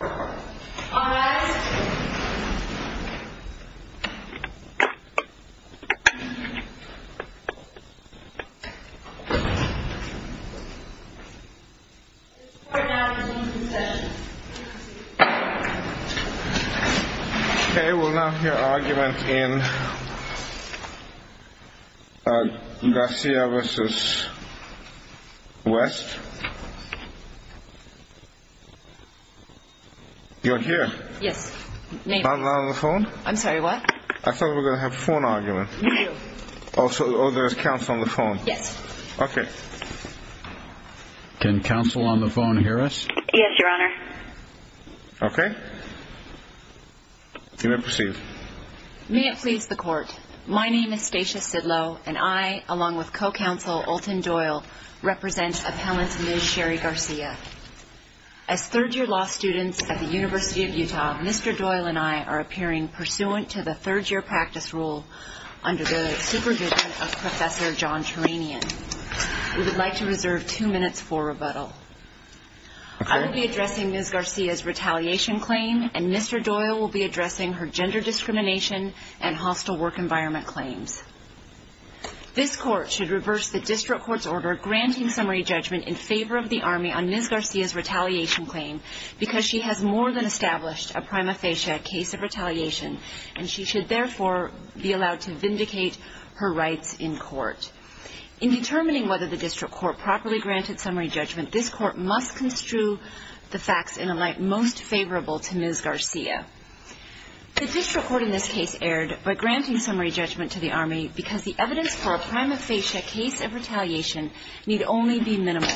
All rise. Okay, we'll now hear argument in Garcia versus West. You're here. Yes. Phone. I'm sorry. What? I thought we're going to have phone argument. Also, there's counsel on the phone. Yes. Okay. Can counsel on the phone hear us? Yes, Your Honor. Okay. You may proceed. May it please the court. My name is Stacia Sidlow and I, along with co-counsel Olton Doyle, represent appellant Ms. Sherry Garcia. As third-year law students at the University of Utah, Mr. Doyle and I are appearing pursuant to the third-year practice rule under the supervision of Professor John Turanian. We would like to reserve two minutes for rebuttal. I will be addressing Ms. Garcia's retaliation claim and Mr. Doyle will be addressing her gender discrimination and hostile work environment claims. This court should reverse the district court's order granting summary judgment in favor of the Army on Ms. Garcia's retaliation claim because she has more than established a prima facie case of retaliation and she should, therefore, be allowed to vindicate her rights in court. In determining whether the district court properly granted summary judgment, this court must construe the facts in a light most favorable to Ms. Garcia. The district court in this case erred by granting summary judgment to the Army because the evidence for a prima facie case of retaliation need only be minimal.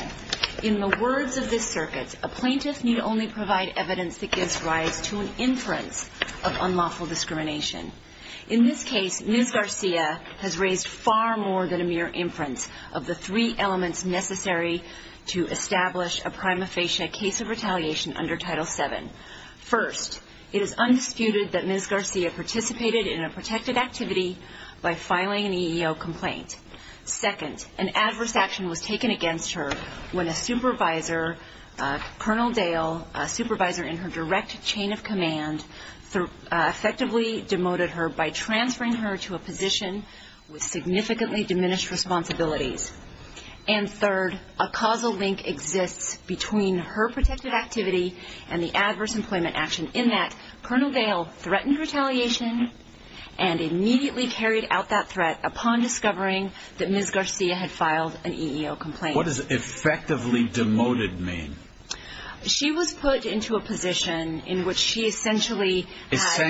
In the words of this circuit, a plaintiff need only provide evidence that gives rise to an inference of unlawful discrimination. In this case, Ms. Garcia has raised far more than a mere inference of the three elements necessary to establish a prima facie case of retaliation under Title VII. First, it is undisputed that Ms. Garcia participated in a protected activity by filing an EEO complaint. Second, an adverse action was taken against her when a supervisor, Colonel Dale, a supervisor in her direct chain of command, effectively demoted her by transferring her to a position with significantly diminished responsibilities. And third, a causal link exists between her protected activity and the adverse employment action in that Colonel Dale threatened retaliation and immediately carried out that threat upon discovering that Ms. Garcia had filed an EEO complaint. What does effectively demoted mean? She was put into a position in which she essentially had... She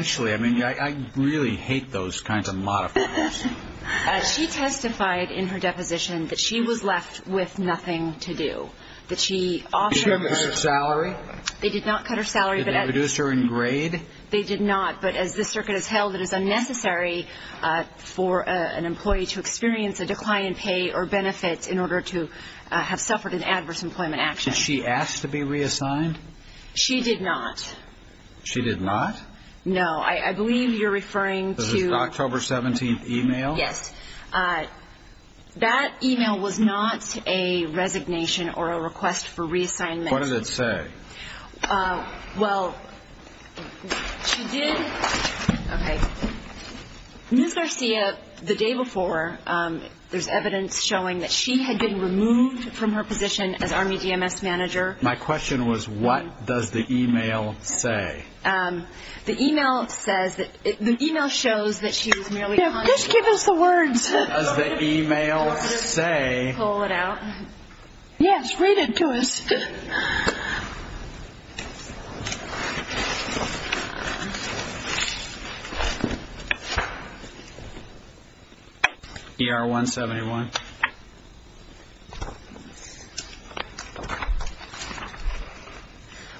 testified in her deposition that she was left with nothing to do. That she offered... Did she ever cut her salary? They did not cut her salary. Did they reduce her in grade? They did not, but as this circuit has held, it is unnecessary for an employee to experience a decline in pay or benefit in order to have suffered an adverse employment action. Did she ask to be reassigned? She did not. She did not? No, I believe you're referring to... This is an October 17th email? Yes. That email was not a resignation or a request for reassignment. What does it say? Well, she did... Okay. Ms. Garcia, the day before, there's evidence showing that she had been removed from her position as Army DMS manager. My question was, what does the email say? The email says that... The email shows that she was merely... Just give us the words. What does the email say? Pull it out. Yes, read it to us. ER-171.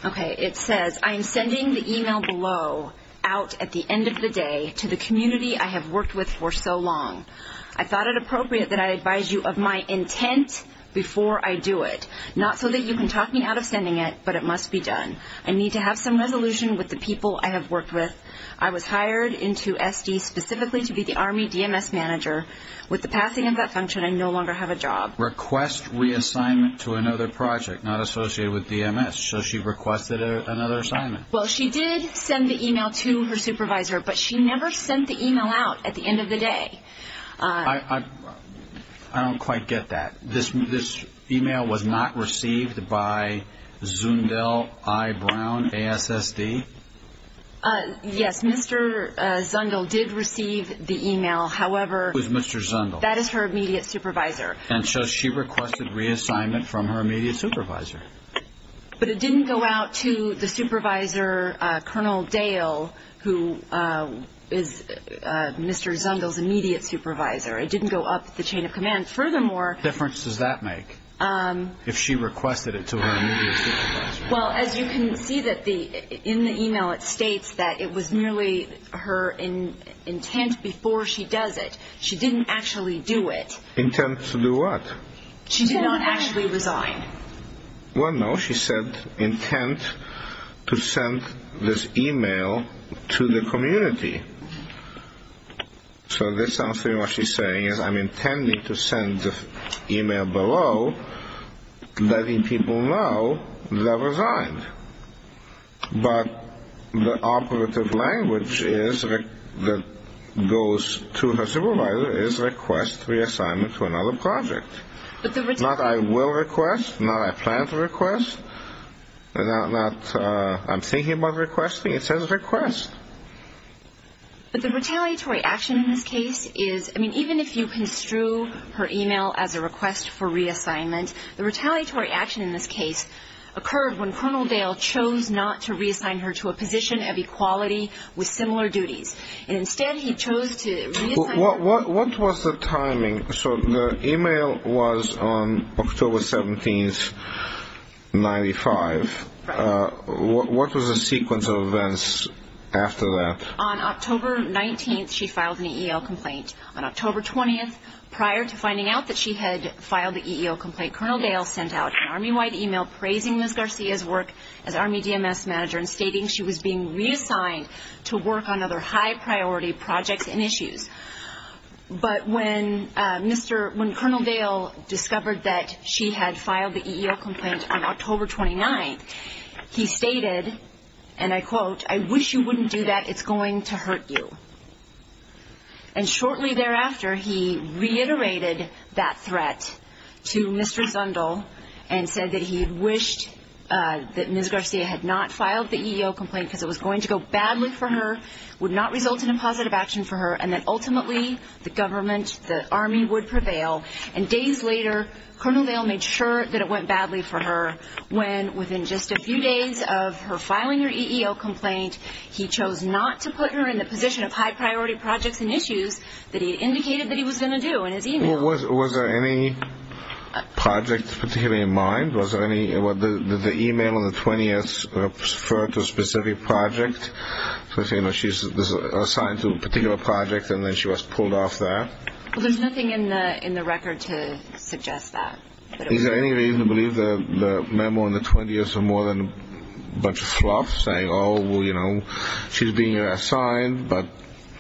Okay, it says, I am sending the email below, out at the end of the day, to the community I have worked with for so long. I thought it appropriate that I advise you of my intent before I do it. Not so that you can talk me out of sending it, but it must be done. I need to have some resolution with the people I have worked with. I was hired into SD specifically to be the Army DMS manager. With the passing of that function, I no longer have a job. Request reassignment to another project not associated with DMS. Yes, so she requested another assignment. Well, she did send the email to her supervisor, but she never sent the email out at the end of the day. I don't quite get that. This email was not received by Zundel I. Brown, ASSD? Yes, Mr. Zundel did receive the email, however... Who is Mr. Zundel? That is her immediate supervisor. And so she requested reassignment from her immediate supervisor. But it didn't go out to the supervisor, Colonel Dale, who is Mr. Zundel's immediate supervisor. It didn't go up the chain of command. Furthermore... What difference does that make if she requested it to her immediate supervisor? Well, as you can see in the email, it states that it was merely her intent before she does it. She didn't actually do it. Intent to do what? She did not actually resign. Well, no, she said intent to send this email to the community. So this answer to what she's saying is, I'm intending to send the email below letting people know that I resigned. But the operative language that goes to her supervisor is request reassignment to another project. Not I will request, not I plan to request, not I'm thinking about requesting. It says request. But the retaliatory action in this case is... I mean, even if you construe her email as a request for reassignment, the retaliatory action in this case occurred when Colonel Dale chose not to reassign her to a position of equality with similar duties. Instead, he chose to reassign her... What was the timing? So the email was on October 17th, 1995. Right. What was the sequence of events after that? On October 19th, she filed an EEL complaint. On October 20th, prior to finding out that she had filed the EEL complaint, Colonel Dale sent out an Army-wide email praising Ms. Garcia's work as Army DMS manager and stating she was being reassigned to work on other high-priority projects and issues. But when Colonel Dale discovered that she had filed the EEL complaint on October 29th, he stated, and I quote, And shortly thereafter, he reiterated that threat to Mr. Zundel and said that he wished that Ms. Garcia had not filed the EEL complaint because it was going to go badly for her, would not result in a positive action for her, and that ultimately the government, the Army, would prevail. And days later, Colonel Dale made sure that it went badly for her when within just a few days of her filing her EEL complaint, he chose not to put her in the position of high-priority projects and issues that he had indicated that he was going to do in his email. Was there any project particularly in mind? Did the email on the 20th refer to a specific project? She's assigned to a particular project, and then she was pulled off that? There's nothing in the record to suggest that. Is there any reason to believe that the memo on the 20th is more than a bunch of fluff, saying, oh, well, you know, she's being assigned, but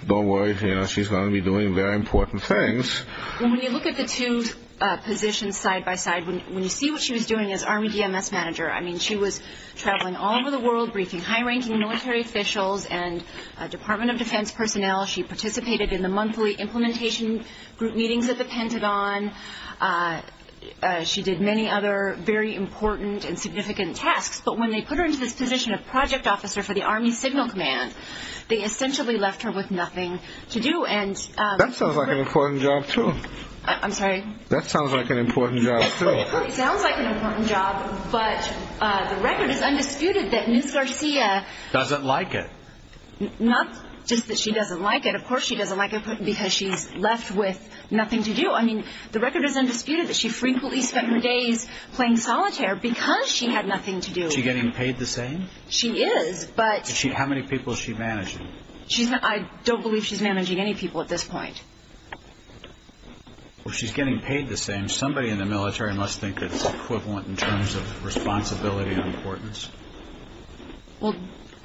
don't worry, you know, she's going to be doing very important things? When you look at the two positions side by side, when you see what she was doing as Army DMS manager, I mean, she was traveling all over the world briefing high-ranking military officials and Department of Defense personnel. She participated in the monthly implementation group meetings at the Pentagon. She did many other very important and significant tasks. But when they put her into this position of project officer for the Army Signal Command, they essentially left her with nothing to do. That sounds like an important job, too. I'm sorry? That sounds like an important job, too. It sounds like an important job, but the record is undisputed that Ms. Garcia Doesn't like it. Not just that she doesn't like it. Of course she doesn't like it because she's left with nothing to do. I mean, the record is undisputed that she frequently spent her days playing solitaire because she had nothing to do. Is she getting paid the same? She is, but How many people is she managing? I don't believe she's managing any people at this point. Well, she's getting paid the same. Somebody in the military must think it's equivalent in terms of responsibility and importance. Well,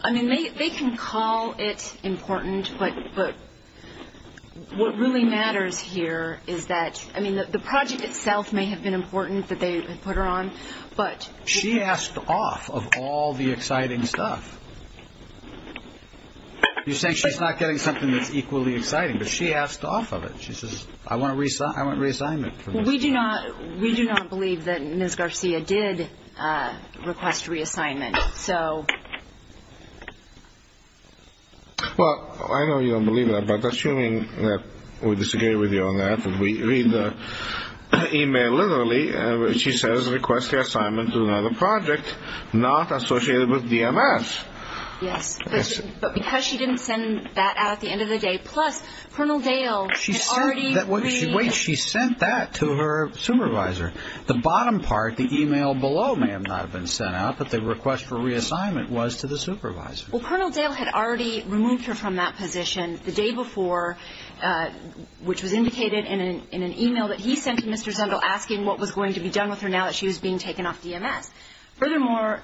I mean, they can call it important, but what really matters here is that, I mean, the project itself may have been important that they put her on, but She asked off of all the exciting stuff. You say she's not getting something that's equally exciting, but she asked off of it. She says, I want reassignment from Ms. Garcia. We do not believe that Ms. Garcia did request reassignment, so Well, I know you don't believe that, but assuming that we disagree with you on that if we read the e-mail literally, she says request reassignment to another project not associated with DMS. Yes, but because she didn't send that out at the end of the day, plus Colonel Dale had already Wait, she sent that to her supervisor. The bottom part, the e-mail below may have not been sent out, but the request for reassignment was to the supervisor. Well, Colonel Dale had already removed her from that position the day before, which was indicated in an e-mail that he sent to Mr. Zungel asking what was going to be done with her now that she was being taken off DMS. Furthermore,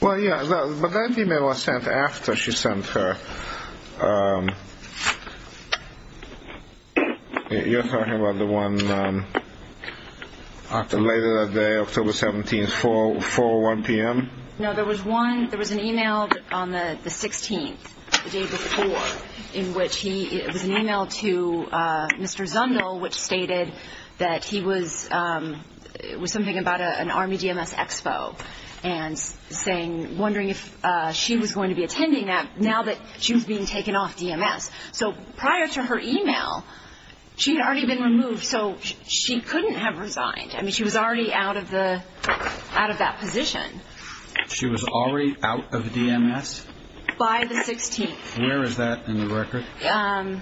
Well, yeah, but that e-mail was sent after she sent her. You're talking about the one later that day, October 17th, 4, 1 p.m.? No, there was one, there was an e-mail on the 16th, the day before, in which he, it was an e-mail to Mr. Zungel which stated that he was, it was something about an Army DMS expo and saying, wondering if she was going to be attending that now that she was being taken off DMS. So prior to her e-mail, she had already been removed, so she couldn't have resigned. I mean, she was already out of the, out of that position. She was already out of DMS? By the 16th. Where is that in the record? Okay. Okay.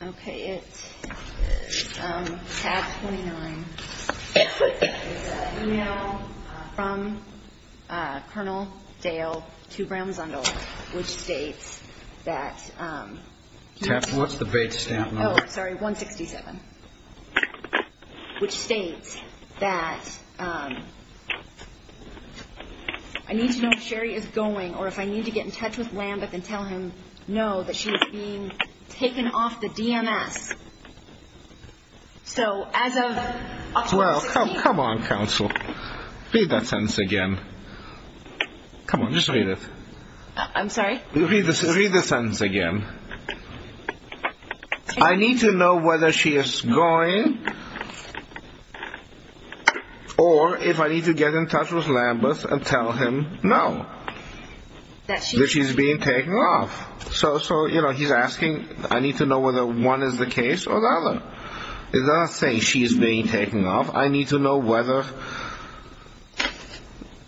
Okay, it's tab 29. It's an e-mail from Colonel Dale to Graham Zungel, which states that, What's the Bates stamp number? Oh, sorry, 167, which states that, I need to know if Sherry is going or if I need to get in touch with Lambeth and tell him no, that she's being taken off the DMS. So as of, Well, come on, counsel. Read that sentence again. Come on, just read it. I'm sorry? Read the sentence again. I need to know whether she is going or if I need to get in touch with Lambeth and tell him no, that she's being taken off. So, you know, he's asking, I need to know whether one is the case or the other. It's not saying she's being taken off. I need to know whether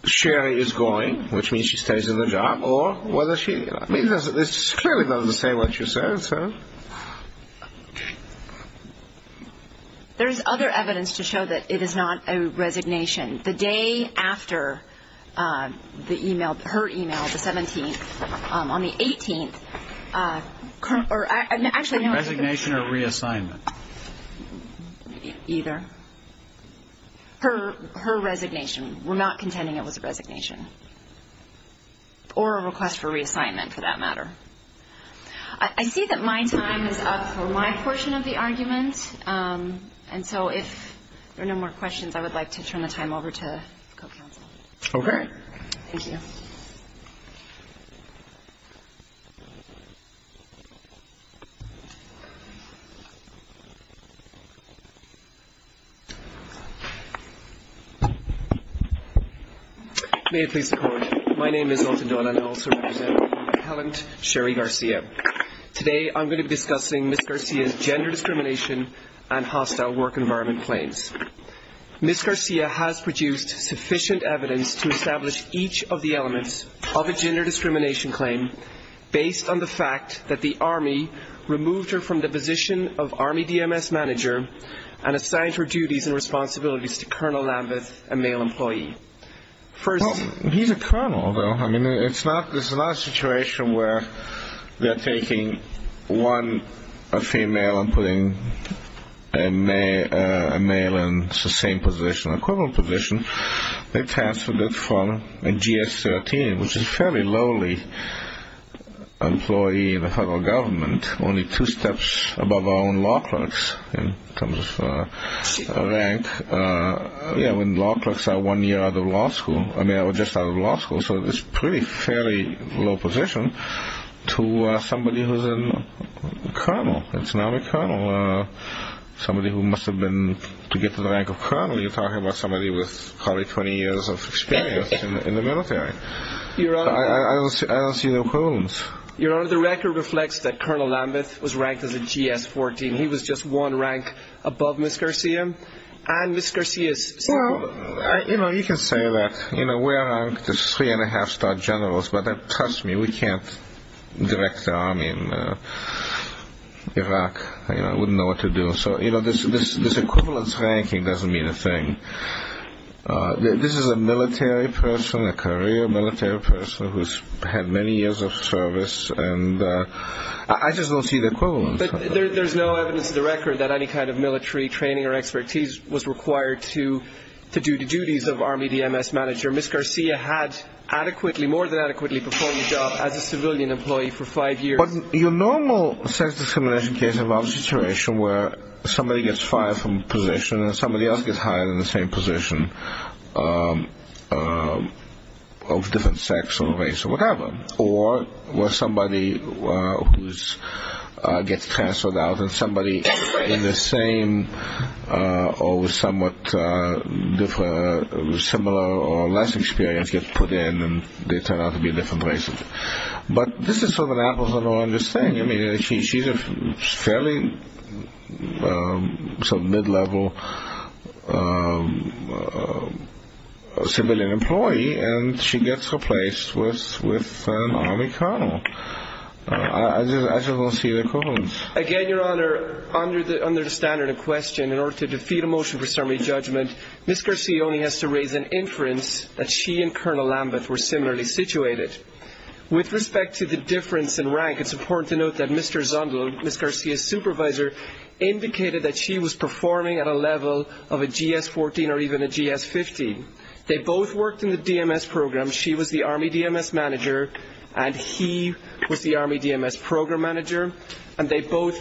Sherry is going, which means she stays in the job, or whether she, I mean, this clearly doesn't say what you said, sir. There is other evidence to show that it is not a resignation. The day after the e-mail, her e-mail, the 17th, on the 18th. Actually, no. Resignation or reassignment? Either. Her resignation. We're not contending it was a resignation. Or a request for reassignment, for that matter. I see that my time is up for my portion of the argument. And so if there are no more questions, I would like to turn the time over to the co-counsel. Okay. Thank you. May it please the Court. My name is Alton Doughton. I also represent Helen Sherry Garcia. Today I'm going to be discussing Ms. Garcia's gender discrimination and hostile work environment claims. Ms. Garcia has produced sufficient evidence to establish each of the elements of a gender discrimination claim based on the fact that the Army removed her from the position of Army DMS manager and assigned her duties and responsibilities to Colonel Lambeth, a male employee. Well, he's a colonel, though. I mean, this is not a situation where they're taking one female and putting a male in the same position, a colonel position. They transferred it from a GS-13, which is a fairly lowly employee in the federal government, only two steps above our own law clerks in terms of rank. Yeah, when law clerks are one year out of law school, I mean, or just out of law school, so it's a pretty fairly low position to somebody who's a colonel. It's not a colonel. Somebody who must have been, to get to the rank of colonel, you're talking about somebody with probably 20 years of experience in the military. I don't see no problems. Your Honor, the record reflects that Colonel Lambeth was ranked as a GS-14. He was just one rank above Ms. Garcia and Ms. Garcia's son. Well, you can say that. We're ranked as three-and-a-half-star generals, but trust me, we can't direct the Army in Iraq. I wouldn't know what to do. So this equivalence ranking doesn't mean a thing. This is a military person, a career military person who's had many years of service, and I just don't see the equivalence. But there's no evidence to the record that any kind of military training or expertise was required to do the duties of Army DMS manager. Ms. Garcia had adequately, more than adequately, performed the job as a civilian employee for five years. Your normal sex discrimination case involves a situation where somebody gets fired from a position and somebody else gets hired in the same position of different sex or race or whatever, or where somebody gets transferred out and somebody in the same or somewhat similar or less experience gets put in and they turn out to be different races. But this is sort of an apples and oranges thing. I mean, she's a fairly mid-level civilian employee, and she gets replaced with an Army colonel. I just don't see the equivalence. Again, Your Honor, under the standard of question, in order to defeat a motion for summary judgment, Ms. Garcia only has to raise an inference that she and Colonel Lambeth were similarly situated. With respect to the difference in rank, it's important to note that Mr. Zundel, Ms. Garcia's supervisor, indicated that she was performing at a level of a GS-14 or even a GS-15. They both worked in the DMS program. She was the Army DMS manager and he was the Army DMS program manager, and they both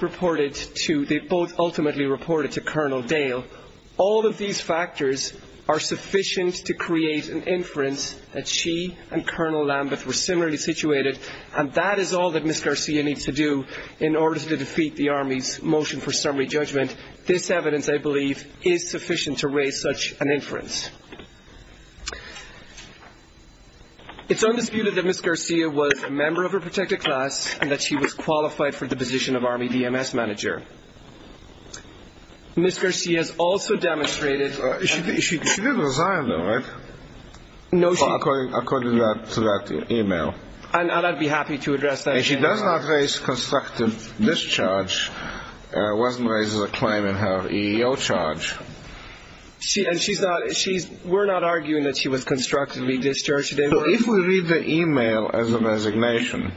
ultimately reported to Colonel Dale. All of these factors are sufficient to create an inference that she and Colonel Lambeth were similarly situated, and that is all that Ms. Garcia needs to do in order to defeat the Army's motion for summary judgment. This evidence, I believe, is sufficient to raise such an inference. It's undisputed that Ms. Garcia was a member of her protected class and that she was qualified for the position of Army DMS manager. Ms. Garcia has also demonstrated – She didn't resign, though, right? No, she – According to that e-mail. And I'd be happy to address that. And she does not raise constructive discharge. It wasn't raised as a claim in her EEO charge. And she's not – we're not arguing that she was constructively discharged. If we read the e-mail as a resignation,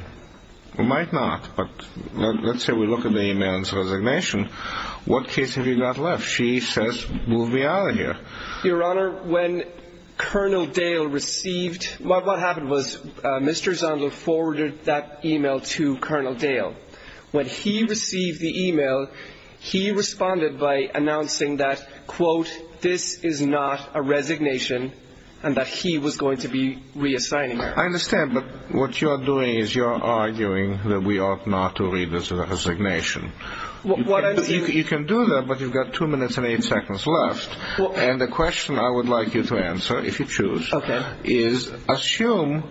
we might not, but let's say we look at the e-mail as a resignation. What case have you got left? She says, move me out of here. Your Honor, when Colonel Dale received – what happened was Mr. Zondel forwarded that e-mail to Colonel Dale. When he received the e-mail, he responded by announcing that, quote, this is not a resignation and that he was going to be reassigning her. I understand, but what you're doing is you're arguing that we ought not to read this as a resignation. You can do that, but you've got two minutes and eight seconds left. And the question I would like you to answer, if you choose, is assume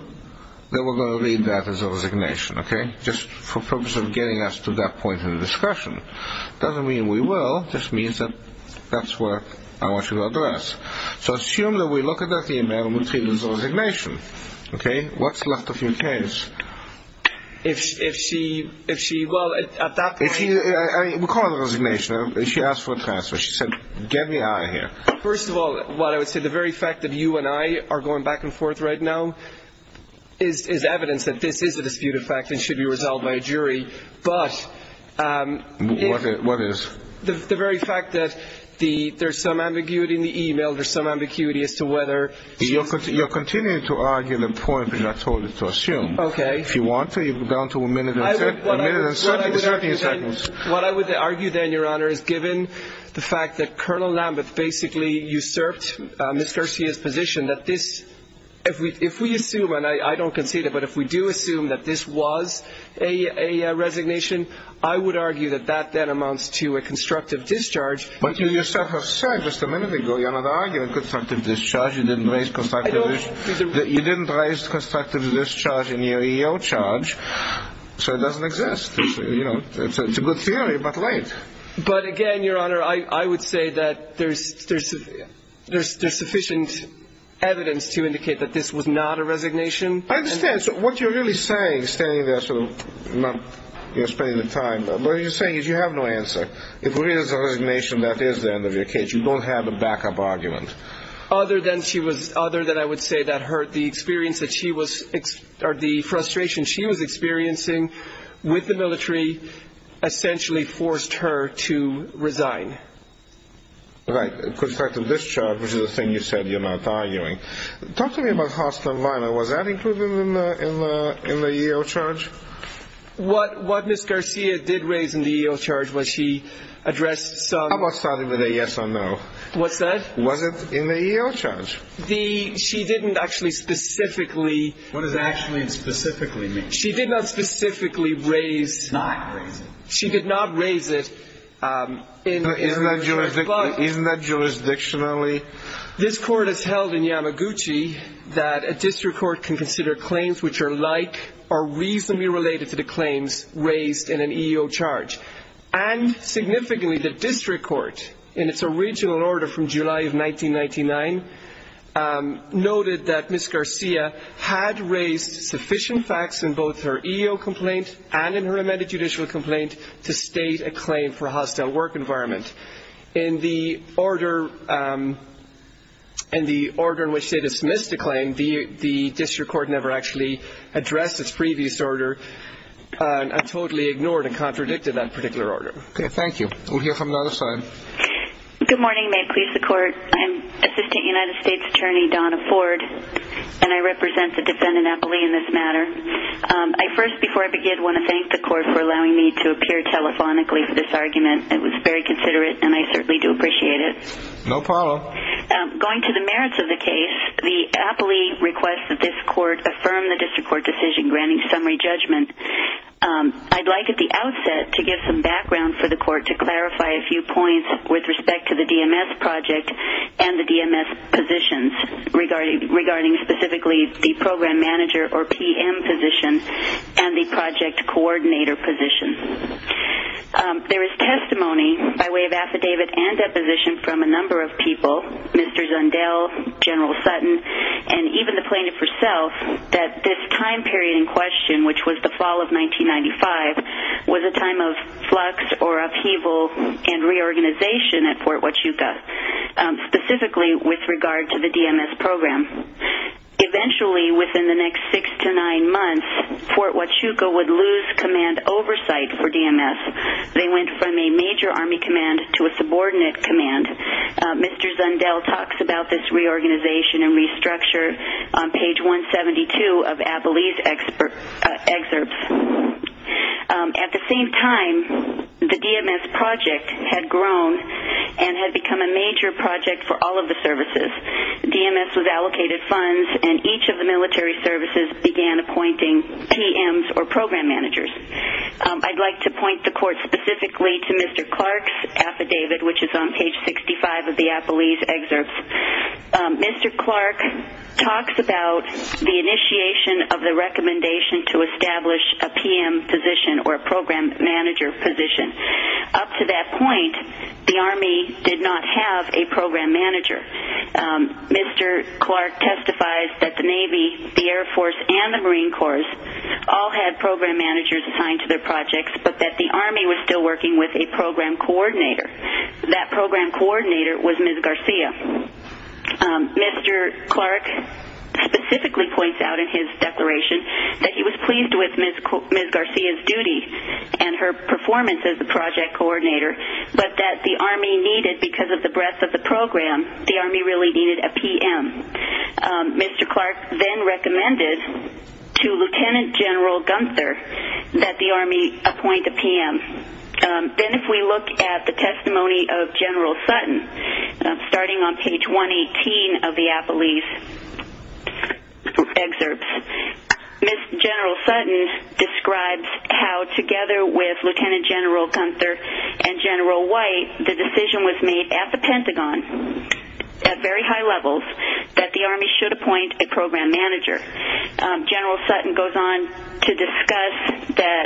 that we're going to read that as a resignation, okay? Just for purpose of getting us to that point in the discussion. It doesn't mean we will. It just means that that's what I want you to address. So assume that we look at that e-mail and we treat it as a resignation, okay? What's left of your case? If she – well, at that point – We call it a resignation. She asked for a transfer. She said, get me out of here. First of all, what I would say, the very fact that you and I are going back and forth right now is evidence that this is a disputed fact and should be resolved by a jury, but – What is? The very fact that there's some ambiguity in the e-mail. There's some ambiguity as to whether she's – You're continuing to argue the point that I told you to assume. Okay. If you want to, you go down to a minute and 30 seconds. What I would argue then, Your Honor, is given the fact that Colonel Lambeth basically usurped Ms. Garcia's position, that this – if we assume, and I don't concede it, but if we do assume that this was a resignation, I would argue that that then amounts to a constructive discharge. But you yourself have said just a minute ago you're not arguing constructive discharge. You didn't raise constructive – I don't – You didn't raise constructive discharge in your EEO charge, so it doesn't exist. It's a good theory, but wait. But again, Your Honor, I would say that there's sufficient evidence to indicate that this was not a resignation. I understand. So what you're really saying, standing there sort of not spending the time, what you're saying is you have no answer. If it is a resignation, that is the end of your case. You don't have a backup argument. Other than she was – other than I would say that her – the experience that she was – or the frustration she was experiencing with the military essentially forced her to resign. Right. Constructive discharge, which is the thing you said you're not arguing. Talk to me about hostile environment. Was that included in the EEO charge? What Ms. Garcia did raise in the EEO charge was she addressed some – How about starting with a yes or no? What's that? Was it in the EEO charge? She didn't actually specifically – What does actually and specifically mean? She did not specifically raise – Not raise it. She did not raise it in – Isn't that jurisdictionally – which are like or reasonably related to the claims raised in an EEO charge. And significantly, the district court, in its original order from July of 1999, noted that Ms. Garcia had raised sufficient facts in both her EEO complaint and in her amended judicial complaint to state a claim for a hostile work environment. In the order in which they dismissed the claim, the district court never actually addressed its previous order and totally ignored and contradicted that particular order. Okay. Thank you. We'll hear from another side. Good morning. May it please the court. I'm Assistant United States Attorney Donna Ford, and I represent the defendant aptly in this matter. I first, before I begin, want to thank the court for allowing me to appear telephonically for this argument. It was very considerate, and I certainly do appreciate it. No problem. Going to the merits of the case, the aptly requests that this court affirm the district court decision granting summary judgment. I'd like at the outset to give some background for the court to clarify a few points with respect to the DMS project and the DMS positions, regarding specifically the program manager or PM position and the project coordinator position. There is testimony by way of affidavit and deposition from a number of people, Mr. Zundel, General Sutton, and even the plaintiff herself, that this time period in question, which was the fall of 1995, was a time of flux or upheaval and reorganization at Fort Huachuca, specifically with regard to the DMS program. Eventually, within the next six to nine months, Fort Huachuca would lose command oversight for DMS. They went from a major army command to a subordinate command. Mr. Zundel talks about this reorganization and restructure on page 172 of aptly's excerpts. At the same time, the DMS project had grown and had become a major project for all of the services. DMS was allocated funds and each of the military services began appointing PMs or program managers. I'd like to point the court specifically to Mr. Clark's affidavit, which is on page 65 of the aptly's excerpts. Mr. Clark talks about the initiation of the recommendation to establish a PM position or a program manager position. Up to that point, the Army did not have a program manager. Mr. Clark testifies that the Navy, the Air Force, and the Marine Corps all had program managers assigned to their projects, but that the Army was still working with a program coordinator. That program coordinator was Ms. Garcia. Mr. Clark specifically points out in his declaration that he was pleased with Ms. Garcia's duty and her performance as the project coordinator, but that the Army needed, because of the breadth of the program, the Army really needed a PM. Mr. Clark then recommended to Lieutenant General Gunther that the Army appoint a PM. Then if we look at the testimony of General Sutton, starting on page 118 of the aptly's excerpts, General Sutton describes how together with Lieutenant General Gunther and General White, the decision was made at the Pentagon at very high levels that the Army should appoint a program manager. General Sutton goes on to discuss that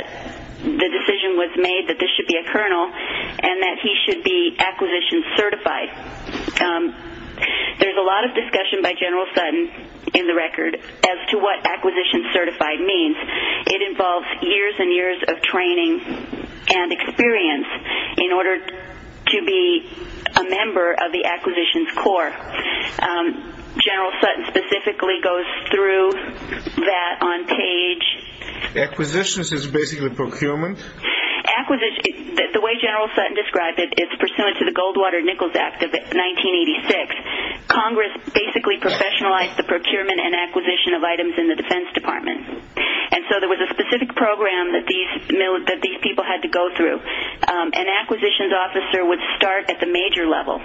the decision was made that this should be a colonel and that he should be acquisition certified. There's a lot of discussion by General Sutton in the record as to what acquisition certified means. It involves years and years of training and experience in order to be a member of the acquisitions corps. General Sutton specifically goes through that on page... Acquisitions is basically procurement. The way General Sutton describes it, it's pursuant to the Goldwater-Nichols Act of 1986. Congress basically professionalized the procurement and acquisition of items in the Defense Department. There was a specific program that these people had to go through. An acquisitions officer would start at the major level.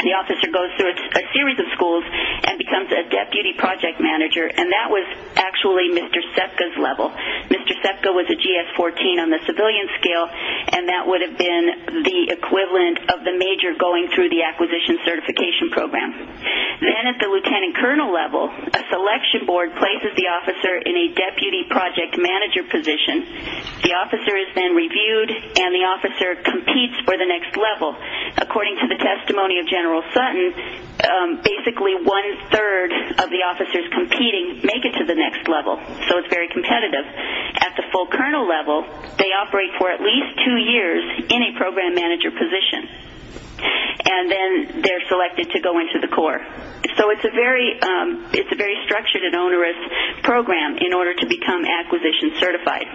The officer goes through a series of schools and becomes a deputy project manager. That was actually Mr. Sepka's level. Mr. Sepka was a GS-14 on the civilian scale, and that would have been the equivalent of the major going through the acquisition certification program. Then at the lieutenant colonel level, a selection board places the officer in a deputy project manager position. The officer is then reviewed, and the officer competes for the next level. According to the testimony of General Sutton, basically one-third of the officers competing make it to the next level. So it's very competitive. At the full colonel level, they operate for at least two years in a program manager position, and then they're selected to go into the corps. So it's a very structured and onerous program in order to become acquisition certified.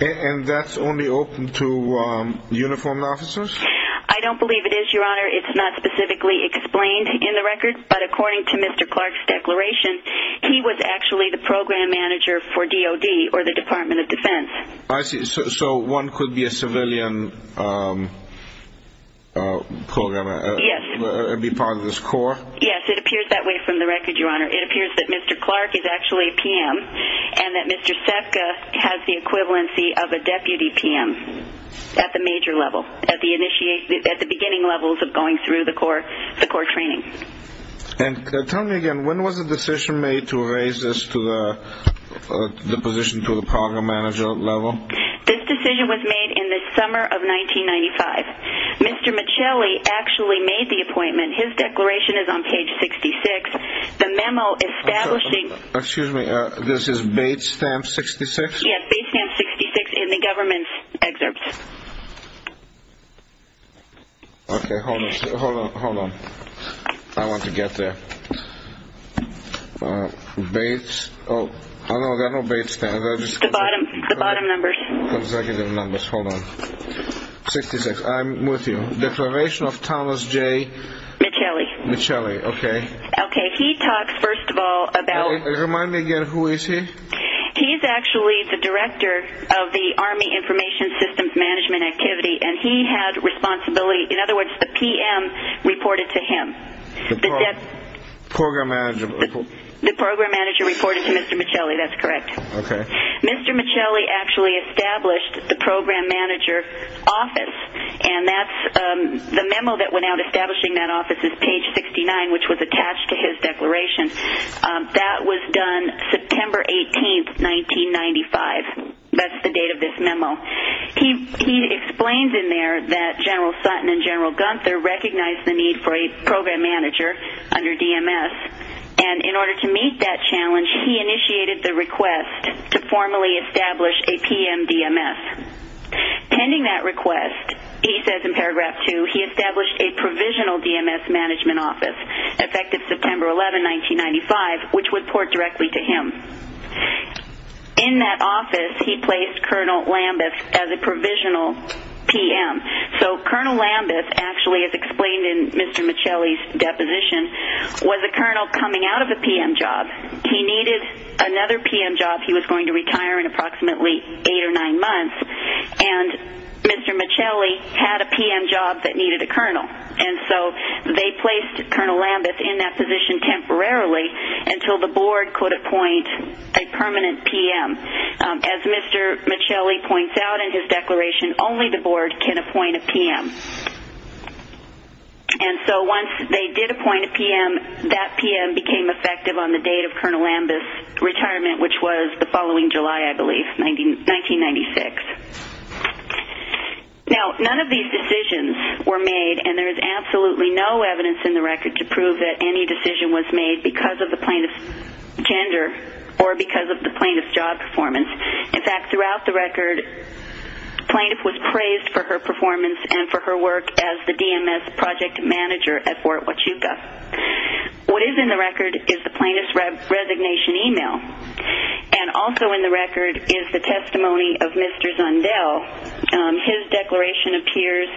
And that's only open to uniformed officers? I don't believe it is, Your Honor. It's not specifically explained in the record, but according to Mr. Clark's declaration, he was actually the program manager for DOD, or the Department of Defense. I see. So one could be a civilian programmer and be part of this corps? Yes, it appears that way from the record, Your Honor. It appears that Mr. Clark is actually a PM, and that Mr. Sepka has the equivalency of a deputy PM at the major level, at the beginning levels of going through the corps training. And tell me again, when was the decision made to raise this position to the program manager level? This decision was made in the summer of 1995. Mr. Michelli actually made the appointment. His declaration is on page 66. The memo establishing... Excuse me, this is Bates Stamp 66? Yes, Bates Stamp 66 in the government's excerpts. Okay, hold on. I want to get there. Bates? Oh, no, there are no Bates Stamp. The bottom numbers. Hold on. 66, I'm with you. Declaration of Thomas J. Michelli. Michelli, okay. Okay, he talks, first of all, about... Remind me again, who is he? He is actually the director of the Army Information Systems Management Activity, and he had responsibility. In other words, the PM reported to him. The program manager? The program manager reported to Mr. Michelli, that's correct. Okay. Mr. Michelli actually established the program manager office, and the memo that went out establishing that office is page 69, which was attached to his declaration. That was done September 18, 1995. That's the date of this memo. He explains in there that General Sutton and General Gunther recognized the need for a program manager under DMS, and in order to meet that challenge, he initiated the request to formally establish a PM DMS. Pending that request, he says in paragraph 2, he established a provisional DMS management office. Effective September 11, 1995, which would port directly to him. In that office, he placed Colonel Lambeth as a provisional PM. So Colonel Lambeth actually, as explained in Mr. Michelli's deposition, was a colonel coming out of a PM job. He needed another PM job. He was going to retire in approximately eight or nine months, and Mr. Michelli had a PM job that needed a colonel. And so they placed Colonel Lambeth in that position temporarily until the board could appoint a permanent PM. As Mr. Michelli points out in his declaration, only the board can appoint a PM. And so once they did appoint a PM, that PM became effective on the date of Colonel Lambeth's retirement, which was the following July, I believe, 1996. Now, none of these decisions were made, and there is absolutely no evidence in the record to prove that any decision was made because of the plaintiff's gender or because of the plaintiff's job performance. In fact, throughout the record, plaintiff was praised for her performance and for her work as the DMS project manager at Fort Huachuca. What is in the record is the plaintiff's resignation email, and also in the record is the testimony of Mr. Zundel. His declaration appears,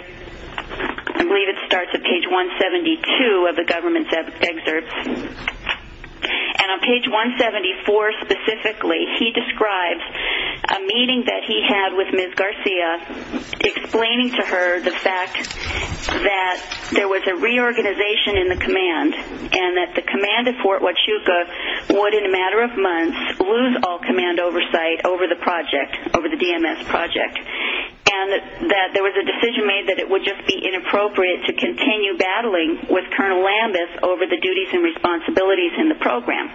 I believe it starts at page 172 of the government's excerpts. And on page 174 specifically, he describes a meeting that he had with Ms. Garcia, explaining to her the fact that there was a reorganization in the command and that the command at Fort Huachuca would, in a matter of months, lose all command oversight over the project, over the DMS project, and that there was a decision made that it would just be inappropriate to continue battling with Colonel Lambeth over the duties and responsibilities in the program.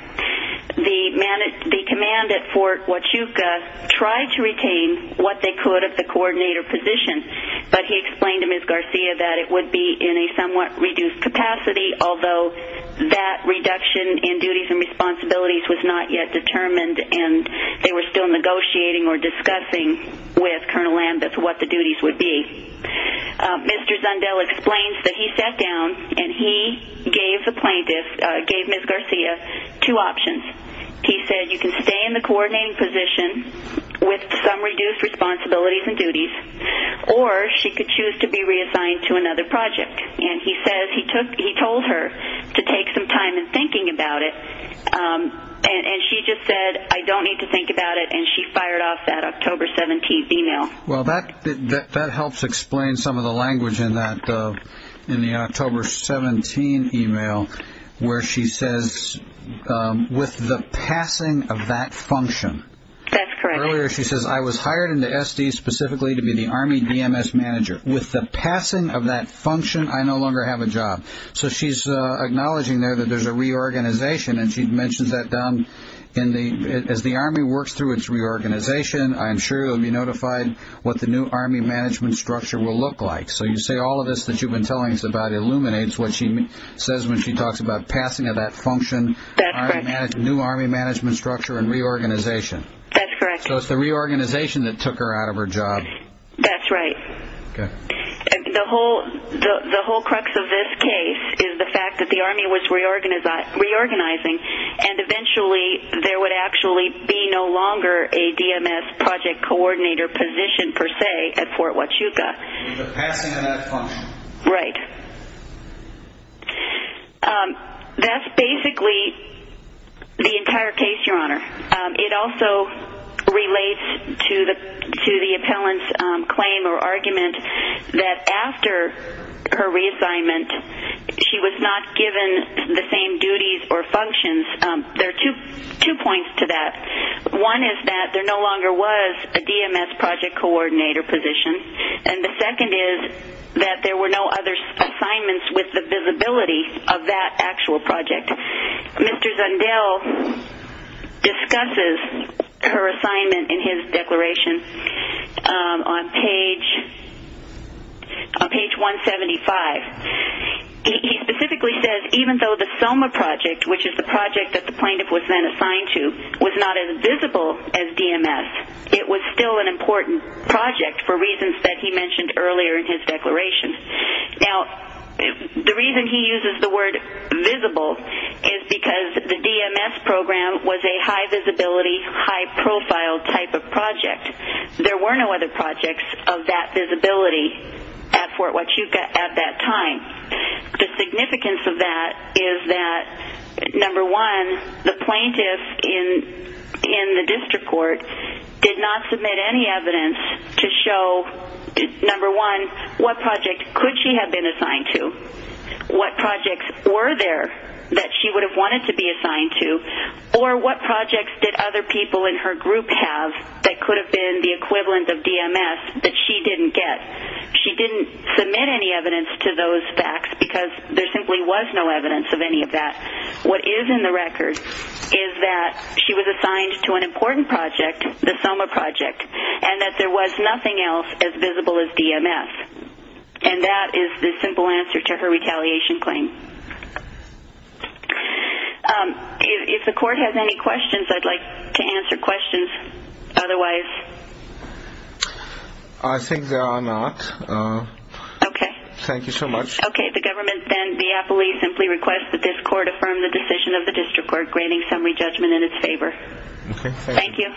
The command at Fort Huachuca tried to retain what they could of the coordinator position, but he explained to Ms. Garcia that it would be in a somewhat reduced capacity, although that reduction in duties and responsibilities was not yet determined and they were still negotiating or discussing with Colonel Lambeth what the duties would be. Mr. Zundel explains that he sat down and he gave the plaintiff, gave Ms. Garcia, two options. He said you can stay in the coordinating position with some reduced responsibilities and duties, or she could choose to be reassigned to another project. And he says he told her to take some time in thinking about it, and she just said, I don't need to think about it, and she fired off that October 17th email. Well, that helps explain some of the language in the October 17th email, where she says, with the passing of that function. That's correct. Earlier she says, I was hired in the SD specifically to be the Army DMS manager. With the passing of that function, I no longer have a job. So she's acknowledging there that there's a reorganization, and she mentions that down. As the Army works through its reorganization, I'm sure you'll be notified what the new Army management structure will look like. So you say all of this that you've been telling us about illuminates what she says when she talks about passing of that function, new Army management structure and reorganization. That's correct. So it's the reorganization that took her out of her job. That's right. Okay. The whole crux of this case is the fact that the Army was reorganizing, and eventually there would actually be no longer a DMS project coordinator position per se at Fort Huachuca. With the passing of that function. Right. That's basically the entire case, Your Honor. It also relates to the appellant's claim or argument that after her reassignment, she was not given the same duties or functions. There are two points to that. One is that there no longer was a DMS project coordinator position, and the second is that there were no other assignments with the visibility of that actual project. Mr. Zundel discusses her assignment in his declaration on page 175. He specifically says even though the SOMA project, which is the project that the plaintiff was then assigned to, was not as visible as DMS, it was still an important project for reasons that he mentioned earlier in his declaration. Now, the reason he uses the word visible is because the DMS program was a high-visibility, high-profile type of project. There were no other projects of that visibility at Fort Huachuca at that time. The significance of that is that, number one, the plaintiff in the district court did not submit any evidence to show, number one, what project could she have been assigned to, what projects were there that she would have wanted to be assigned to, or what projects did other people in her group have that could have been the equivalent of DMS that she didn't get. She didn't submit any evidence to those facts because there simply was no evidence of any of that. What is in the record is that she was assigned to an important project, the SOMA project, and that there was nothing else as visible as DMS. And that is the simple answer to her retaliation claim. If the court has any questions, I'd like to answer questions. Otherwise... I think there are not. Okay. Thank you so much. Okay. The government then, via police, simply requests that this court affirm the decision of the district court, granting summary judgment in its favor. Okay. Thank you.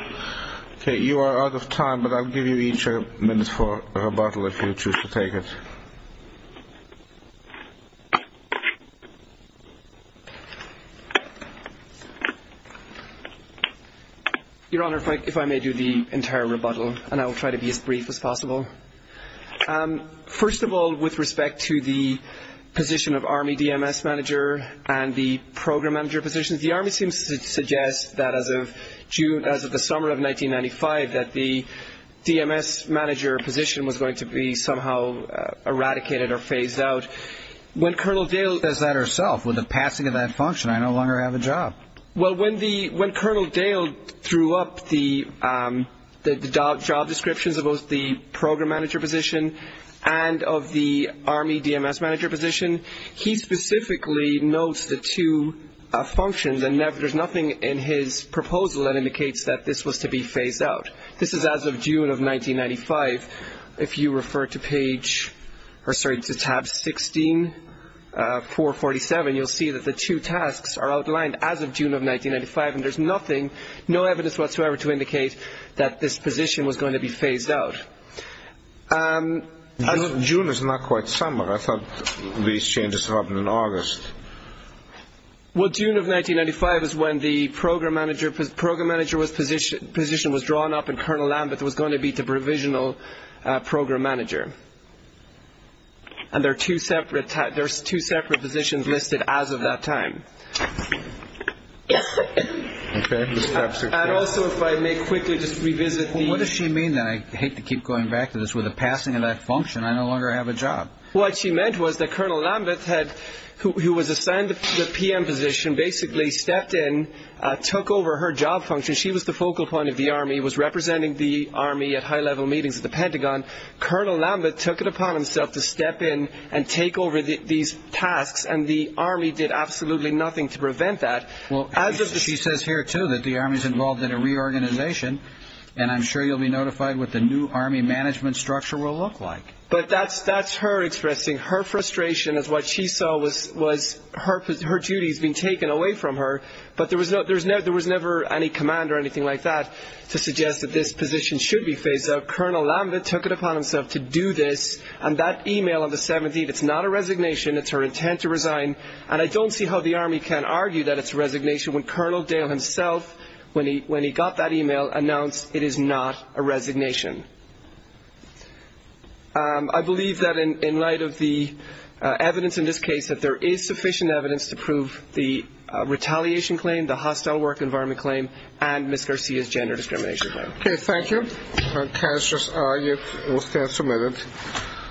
Okay. You are out of time, but I'll give you each a minute for rebuttal if you choose to take it. Your Honor, if I may do the entire rebuttal, and I will try to be as brief as possible. First of all, with respect to the position of Army DMS manager and the program manager positions, the Army seems to suggest that as of June, as of the summer of 1995, that the DMS manager position was going to be somehow eradicated or phased out. When Colonel Dale... Says that herself, with the passing of that function, I no longer have a job. Well, when Colonel Dale threw up the job descriptions of both the program manager position and of the Army DMS manager position, he specifically notes the two functions, and there's nothing in his proposal that indicates that this was to be phased out. This is as of June of 1995. If you refer to page or, sorry, to tab 16, 447, you'll see that the two tasks are outlined as of June of 1995, and there's nothing, no evidence whatsoever to indicate that this position was going to be phased out. June is not quite summer. I thought these changes happened in August. Well, June of 1995 is when the program manager position was drawn up and Colonel Lambeth was going to be the provisional program manager, and there are two separate positions listed as of that time. And also, if I may quickly just revisit the... Well, what does she mean then? I hate to keep going back to this. With the passing of that function, I no longer have a job. What she meant was that Colonel Lambeth, who was assigned the PM position, basically stepped in, took over her job function. She was the focal point of the Army, was representing the Army at high-level meetings at the Pentagon. Colonel Lambeth took it upon himself to step in and take over these tasks, and the Army did absolutely nothing to prevent that. She says here, too, that the Army is involved in a reorganization, and I'm sure you'll be notified what the new Army management structure will look like. But that's her expressing her frustration as what she saw was her duties being taken away from her, but there was never any command or anything like that to suggest that this position should be phased out. But Colonel Lambeth took it upon himself to do this, and that e-mail on the 17th, it's not a resignation. It's her intent to resign, and I don't see how the Army can argue that it's a resignation when Colonel Dale himself, when he got that e-mail, announced it is not a resignation. I believe that in light of the evidence in this case, that there is sufficient evidence to prove the retaliation claim, the hostile work environment claim, and Ms. Garcia's gender discrimination claim. Okay, thank you. Cassius, you will stand submitted.